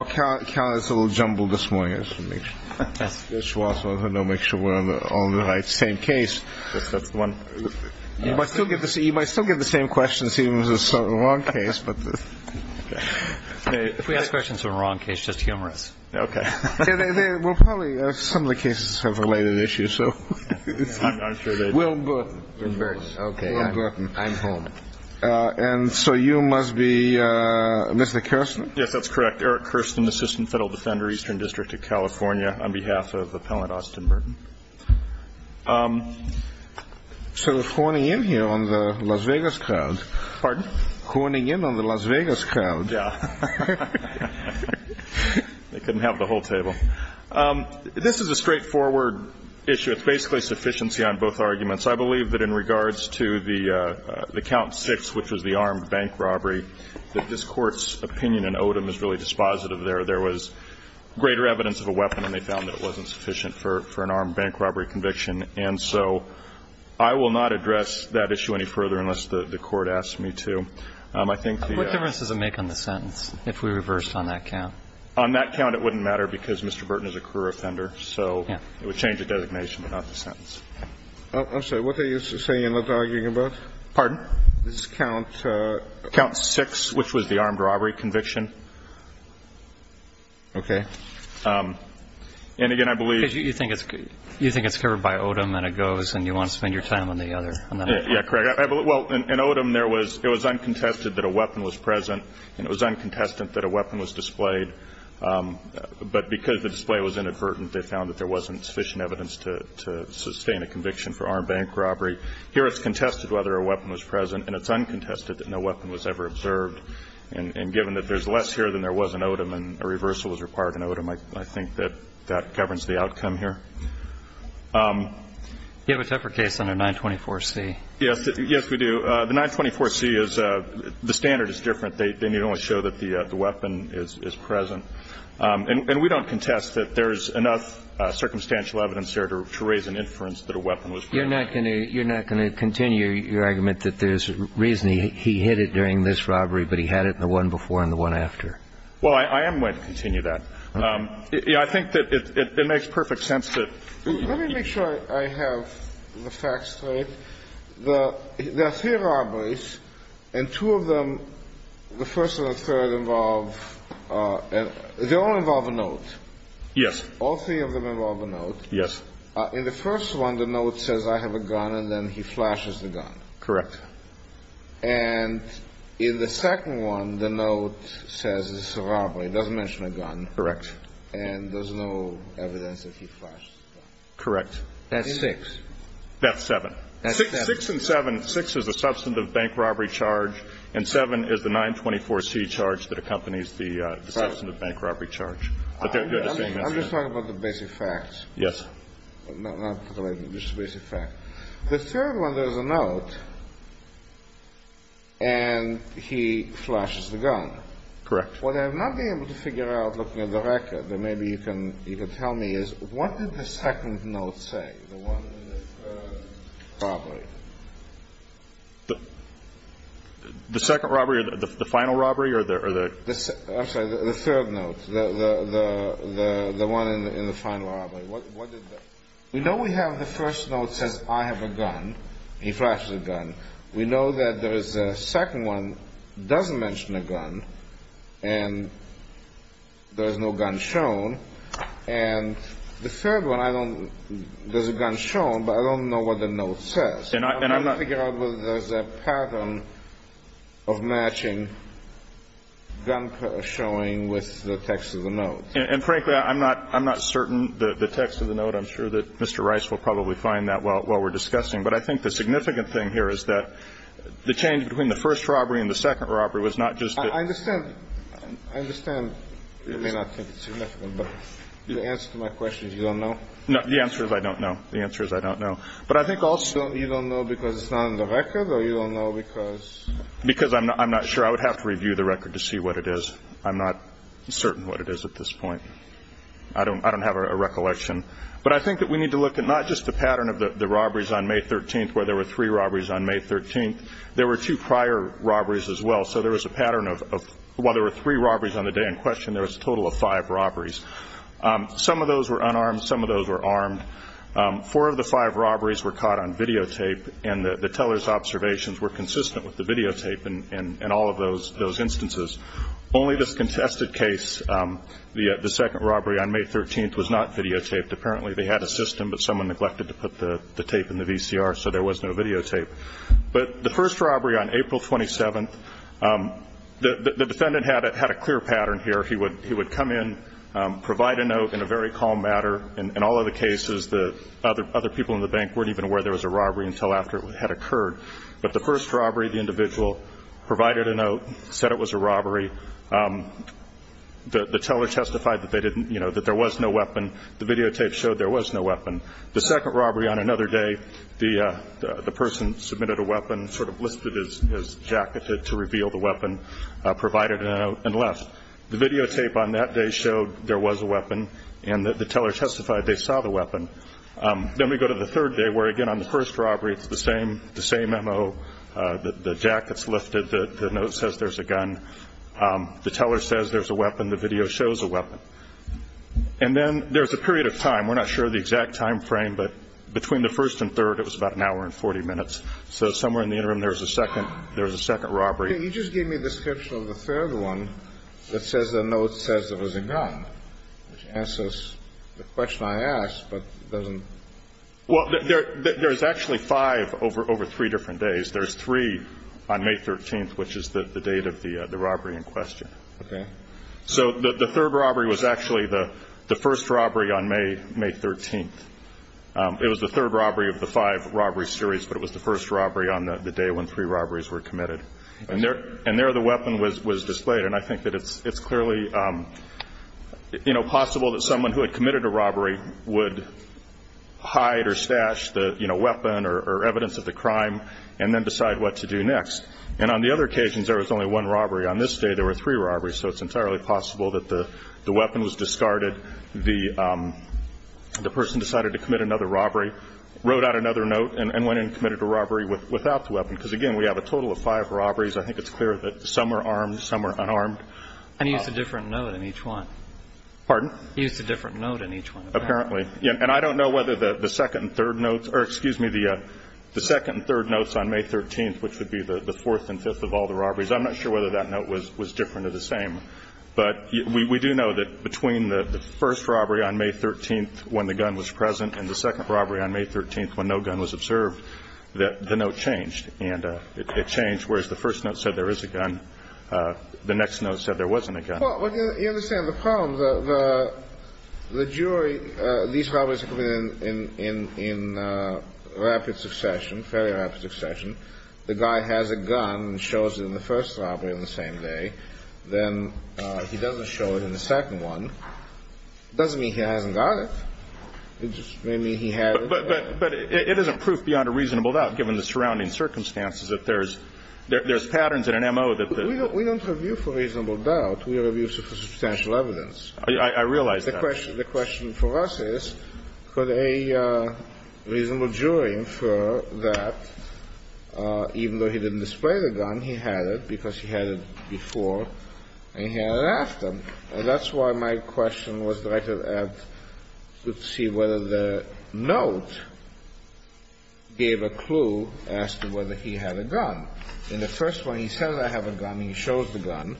this morning. I want to make sure we're on the right same case. You might still get the same questions even if it's the wrong case. If we ask questions in the wrong case, just humor us. Some of the cases have related issues. I'm home. So you must be Mr. Kirsten? Yes, that's correct. Eric Kirsten, Assistant Federal Defender, Eastern District of California, on behalf of Appellant Austin Burton. So we're honing in here on the Las Vegas crowd. Pardon? Honing in on the Las Vegas crowd. Yeah. They couldn't have the whole table. This is a straightforward issue. It's basically sufficiency on both arguments. I believe that in regards to the count six, which was the armed bank robbery, that this Court's opinion in Odom is really dispositive there. There was greater evidence of a weapon, and they found that it wasn't sufficient for an armed bank robbery conviction. And so I will not address that issue any further unless the Court asks me to. I think the What difference does it make on the sentence if we reversed on that count? On that count, it wouldn't matter because Mr. Burton is a career offender. So it would change the designation, but not the sentence. I'm sorry. What are you saying and not arguing about? Pardon? This is count six, which was the armed robbery conviction. OK. And again, I believe you think it's you think it's covered by Odom and it goes and you want to spend your time on the other. Yeah, correct. Well, in Odom, there was it was uncontested that a weapon was present and it was uncontested that a weapon was displayed. But because the display was inadvertent, they found that there was sufficient evidence for an armed bank robbery. Here it's contested whether a weapon was present and it's uncontested that no weapon was ever observed. And given that there's less here than there was in Odom and a reversal was required in Odom, I think that that governs the outcome here. You have a tougher case under 924C. Yes. Yes, we do. The 924C is the standard is different. They need only show that the weapon is present. And we don't contest that there's enough circumstantial evidence here to raise an inference that a weapon was present. You're not going to you're not going to continue your argument that there's reason he hit it during this robbery, but he had it in the one before and the one after. Well, I am going to continue that. I think that it makes perfect sense that. Let me make sure I have the facts straight. There are three robberies and two of them, the first one, the note says I have a gun and then he flashes the gun. Correct. And in the second one, the note says it's a robbery. It doesn't mention a gun. Correct. And there's no evidence that he flashed the gun. Correct. That's six. That's seven. Six and seven. Six is a substantive bank robbery charge and seven is the 924C charge that accompanies the substantive bank robbery charge. I'm just talking about the basic facts. Yes. The third one, there's a note and he flashes the gun. Correct. What I have not been able to figure out looking at the record that maybe you can you can tell me is what did the second note say? The second robbery or the final robbery or the third note? The one in the final robbery. We know we have the first note says I have a gun. He flashes a gun. We know that there is a second one doesn't mention a gun and there is no gun shown. And the third one, I don't there's a gun shown, but I don't know what the note says. And I'm not going to figure and the text. The gun is showing. The text is matching. Guns are showing with the text of the notes. And frankly, I'm not I'm not certain the text of the note. I'm sure that Mr. Rice will probably find that while we're discussing. But I think the significant thing here is that the change between the first robbery and the second robbery was not just that. I understand. I understand. You may not think it's significant, but the answer to my question is you don't know. The answer is I don't know. The answer is I don't know. But I think also you don't know because it's not on the record or you don't know because because I'm not I'm not sure I would have to review the record to see what it is. I'm not certain what it is at this point. I don't I don't have a recollection, but I think that we need to look at not just the pattern of the robberies on May 13th, where there were three robberies on May 13th. There were two prior robberies as well. So there was a pattern of while there were three robberies on the day in question, there was a total of five robberies. Some of those were unarmed. Some of those were armed. Four of the five robberies were caught on videotape, and the teller's observations were consistent with the videotape in all of those instances. Only this contested case, the second robbery on May 13th, was not videotaped. Apparently they had a system, but someone neglected to put the tape in the VCR, so there was no videotape. But the first robbery on April 27th, the defendant had a clear pattern here. He would come in, provide a note in a very calm manner. In all of the cases, the other people in the bank weren't even aware there was a robbery until after it had occurred. But the first robbery, the individual provided a note, said it was a robbery. The teller testified that there was no weapon. The videotape showed there was no weapon. The second robbery on another day, the person submitted a weapon, sort of lifted his jacket to reveal the weapon, provided a note, and left. The videotape on that day showed there was a weapon, and the teller testified they saw the weapon. Then we go to the third day, where again, on the first robbery, it's the same MO. The jacket's lifted. The note says there's a gun. The teller says there's a weapon. The video shows a weapon. And then there's a period of time. We're not sure of the exact time frame, but between the first and third, it was about an hour and 40 minutes. So somewhere in the interim, there's a second robbery. You just gave me a description of the third one that says the note says there was a gun, which answers the question I asked, but it doesn't... Well, there's actually five over three different days. There's three on May 13th, which is the date of the robbery in question. Okay. So the third robbery was actually the first robbery on May 13th. It was the third robbery of the five robbery series, but it was the first robbery on the day when three robberies were committed. And there the weapon was displayed, and I think that it's clearly possible that someone who had committed a robbery would hide or stash the weapon or evidence of the crime and then decide what to do next. And on the other occasions, there was only one robbery. On this day, there were three robberies, so it's entirely possible that the weapon was discarded, the person decided to commit another robbery, wrote out another note, and went in and committed a robbery without the weapon. Because, again, we have a total of five robberies. I think it's clear that some were armed, some were unarmed. And he used a different note in each one. Pardon? He used a different note in each one, apparently. Apparently. And I don't know whether the second and third notes or, excuse me, the second and third notes on May 13th, which would be the fourth and fifth of all the robberies, I'm not sure whether that note was different or the same. But we do know that between the first robbery on May 13th when the gun was present and the second robbery on May 13th when no gun was observed, that the note changed. And it changed, whereas the first note said there is a gun, the next note said there wasn't a gun. Well, you understand the problem. The jury, these robberies are committed in rapid succession, fairly rapid succession. The guy has a gun and shows it in the first robbery on the same day, then he doesn't show it in the second one. It doesn't mean he hasn't got it. It just may mean he had it. But it isn't proof beyond a reasonable doubt, given the surrounding circumstances, that there's patterns in an M.O. that the... We don't review for reasonable doubt. We review for substantial evidence. I realize that. The question for us is, could a reasonable jury infer that even though he didn't display the gun, he had it because he had it before and he had it after? And that's why my question was that I could ask to see whether the note gave a clue as to whether he had a gun. In the first one, he says I have a gun and he shows the gun.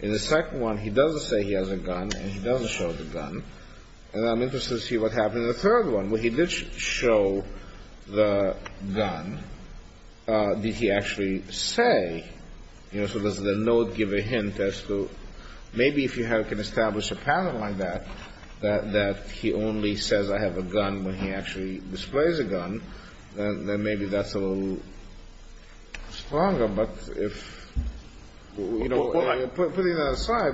In the second one, he doesn't say he has a gun and he doesn't show the gun. And I'm interested to see what happened in the third one, where he did show the gun. Did he actually say, you know, so does the note give a hint as to maybe if you can establish a pattern like that, that he only says I have a gun when he actually displays a gun, then maybe that's a little stronger. But if, you know, putting that aside,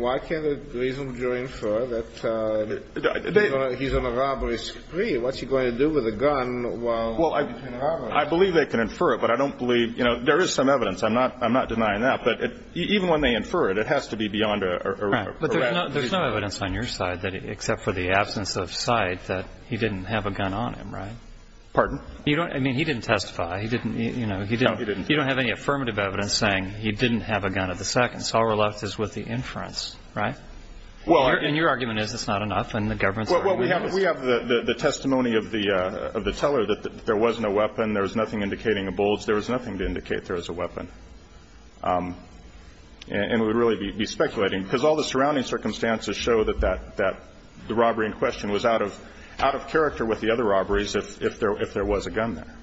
why can't a reasonable jury infer that he's on a robbery spree? What's he going to do with a gun while he's on a robbery spree? Well, I believe they can infer it, but I don't believe, you know, there is some evidence. I'm not denying that. But even when they infer it, it has to be beyond a rational reason. Right. But there's no evidence on your side, except for the absence of cite, that he didn't have a gun on him, right? Pardon? I mean, he didn't testify. He didn't, you know, he didn't. No, he didn't. You don't have any affirmative evidence saying he didn't have a gun at the second. So all we're left is with the inference, right? Well. And your argument is it's not enough, and the government's argument is. Well, we have the testimony of the teller that there was no weapon. There was nothing indicating a bulge. There was nothing to indicate there was a weapon. And we would really be speculating, because all the surrounding circumstances show that the robbery in question was out of character with the other robberies if there was a gun there.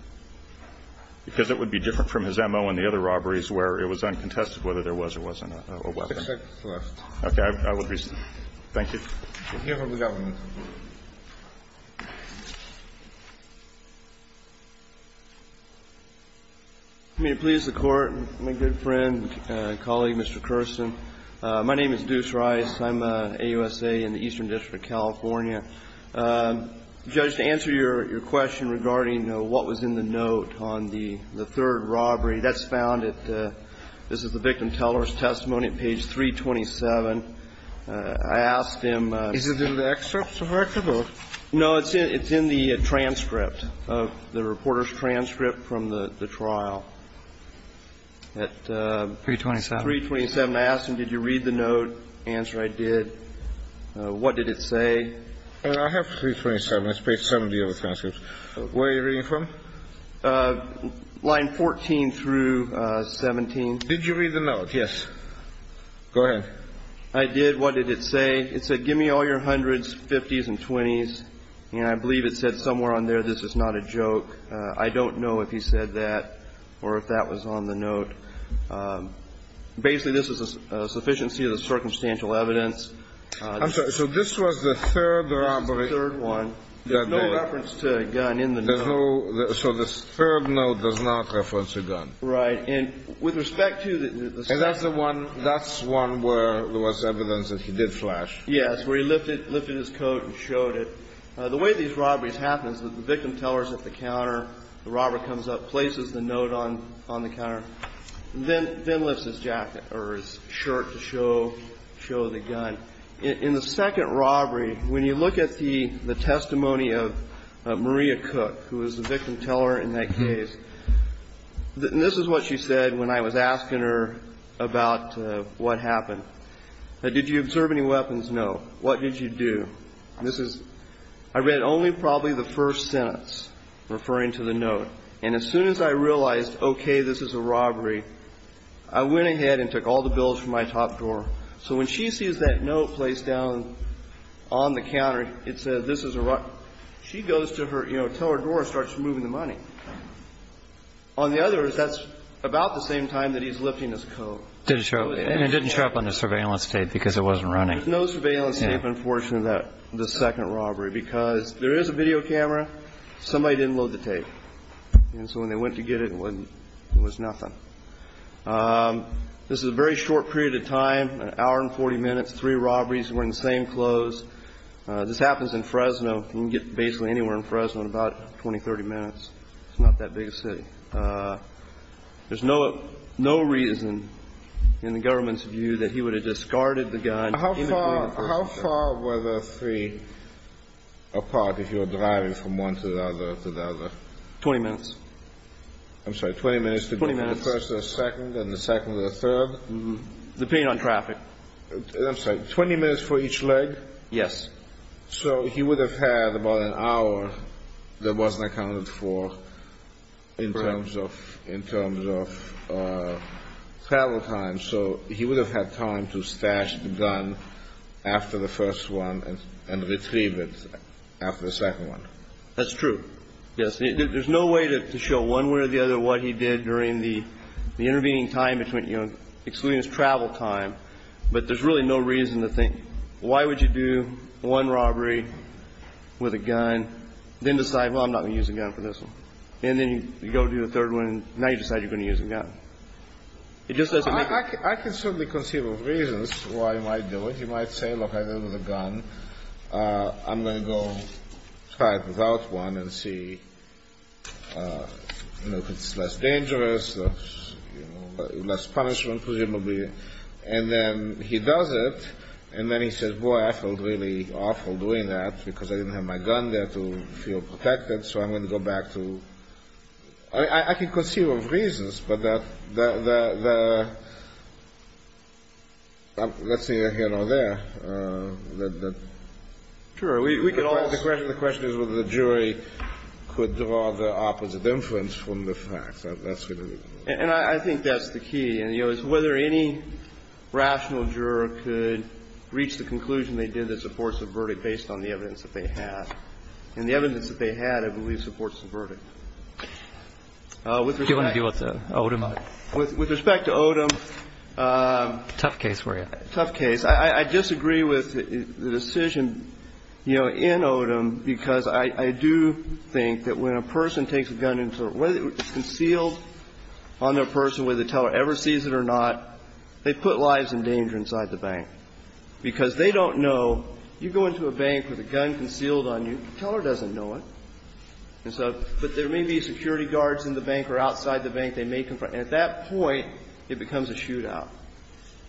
Because it would be different from his MO and the other robberies where it was uncontested whether there was or wasn't a weapon. Except for us. Okay. I would reason. Thank you. We'll hear from the government. May it please the Court, my good friend and colleague, Mr. Kersten. I'm an AUSA in the Eastern District of California. Judge, to answer your question regarding what was in the note on the third robbery, that's found at the victim teller's testimony on page 327. I asked him. Is it in the excerpt, correct? No, it's in the transcript, the reporter's transcript from the trial. 327. 327. I asked him, did you read the note? Answer, I did. What did it say? I have 327. It's page 70 of the transcript. Where are you reading from? Line 14 through 17. Did you read the note? Yes. Go ahead. I did. What did it say? It said, give me all your hundreds, fifties, and twenties. And I believe it said somewhere on there, this is not a joke. I don't know if he said that or if that was on the note. Basically, this is a sufficiency of the circumstantial evidence. I'm sorry. So this was the third robbery. This was the third one. There's no reference to a gun in the note. So the third note does not reference a gun. Right. And with respect to the second one. That's the one where there was evidence that he did flash. Yes, where he lifted his coat and showed it. The way these robberies happen is that the victim teller is at the counter, the robber comes up, places the note on the counter, then lifts his jacket or his shirt to show the gun. In the second robbery, when you look at the testimony of Maria Cook, who was the victim teller in that case, this is what she said when I was asking her about what happened. Did you observe any weapons? No. What did you do? I read only probably the first sentence referring to the note. And as soon as I realized, okay, this is a robbery, I went ahead and took all the bills from my top drawer. So when she sees that note placed down on the counter, it says this is a robbery, she goes to her, you know, teller drawer and starts removing the money. On the other, that's about the same time that he's lifting his coat. And it didn't show up on the surveillance tape because it wasn't running. There's no surveillance tape, unfortunately, in the second robbery. Because there is a video camera. Somebody didn't load the tape. And so when they went to get it, it was nothing. This is a very short period of time, an hour and 40 minutes, three robberies, wearing the same clothes. This happens in Fresno. You can get basically anywhere in Fresno in about 20, 30 minutes. It's not that big a city. There's no reason in the government's view that he would have discarded the gun. How far were the three apart if you were driving from one to the other? 20 minutes. I'm sorry, 20 minutes to go from the first to the second and the second to the third? Depending on traffic. I'm sorry, 20 minutes for each leg? Yes. So he would have had about an hour that wasn't accounted for in terms of travel time. So he would have had time to stash the gun after the first one and retrieve it after the second one. That's true. Yes. There's no way to show one way or the other what he did during the intervening time between, you know, excluding his travel time. But there's really no reason to think why would you do one robbery with a gun, then decide, well, I'm not going to use a gun for this one. And then you go do the third one, and now you decide you're going to use a gun. I can certainly conceive of reasons why you might do it. You might say, look, I did it with a gun. I'm going to go try it without one and see, you know, if it's less dangerous, less punishment, presumably. And then he does it, and then he says, boy, I felt really awful doing that because I didn't have my gun there to feel protected. So I'm going to go back to ‑‑ I mean, I can conceive of reasons, but the ‑‑ let's see here or there. Sure. The question is whether the jury could draw the opposite inference from the facts. And I think that's the key, is whether any rational juror could reach the conclusion they did this And the evidence that they had, I believe, supports the verdict. Do you want to deal with Odom? With respect to Odom. Tough case for you. Tough case. I disagree with the decision, you know, in Odom, because I do think that when a person takes a gun and it's concealed on their person, whether the teller ever sees it or not, they put lives in danger inside the bank. Because they don't know, you go into a bank with a gun concealed on you, the teller doesn't know it. And so ‑‑ but there may be security guards in the bank or outside the bank they may confront. And at that point, it becomes a shootout.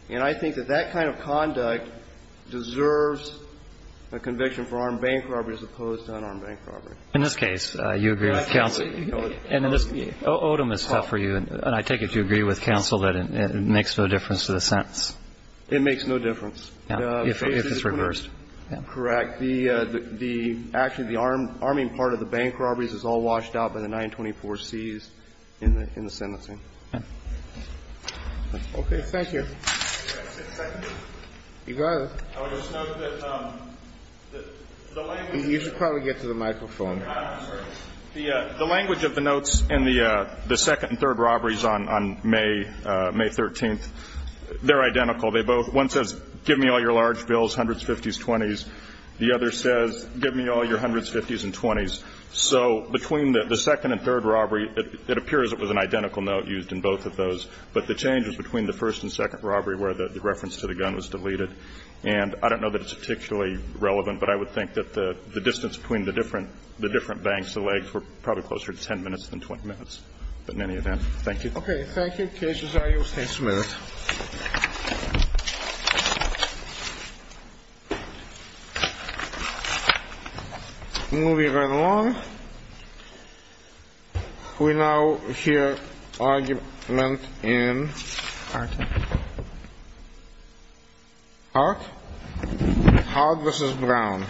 And I think that that kind of conduct deserves a conviction for armed bank robbery as opposed to unarmed bank robbery. In this case, you agree with counsel. And in this ‑‑ Odom is tough for you. And I take it you agree with counsel that it makes no difference to the sentence. It makes no difference. If it's reversed. Correct. The ‑‑ actually, the arming part of the bank robberies is all washed out by the 924Cs in the sentencing. Okay. Thank you. I would just note that the language ‑‑ You should probably get to the microphone. The language of the notes in the second and third robberies on May 13th, they're identical. They both ‑‑ one says, give me all your large bills, hundreds, fifties, twenties. The other says, give me all your hundreds, fifties, and twenties. So between the second and third robbery, it appears it was an identical note used in both of those. But the change is between the first and second robbery where the reference to the gun was deleted. And I don't know that it's particularly relevant, but I would think that the distance between the different banks, the legs, were probably closer to 10 minutes than 20 minutes in any event. Thank you. Thank you. Any other cases I used? Just a minute. Movie number one. We now hear argument in? Hard. Hard? Hard versus brown.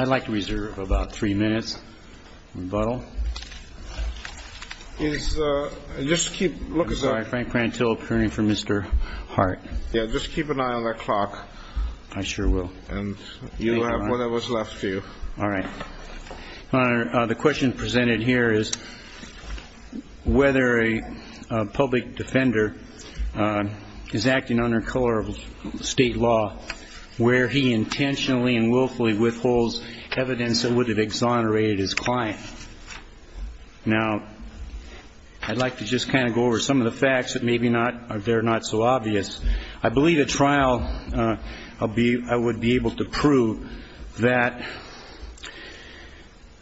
I like to reserve about three minutes. The question presented here is whether a public defender is acting under color of state law where he intentionally and willfully withholds evidence that would have exonerated the defendant. Now, I'd like to just kind of go over some of the facts that maybe they're not so obvious. I believe at trial I would be able to prove that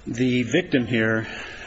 the victim here,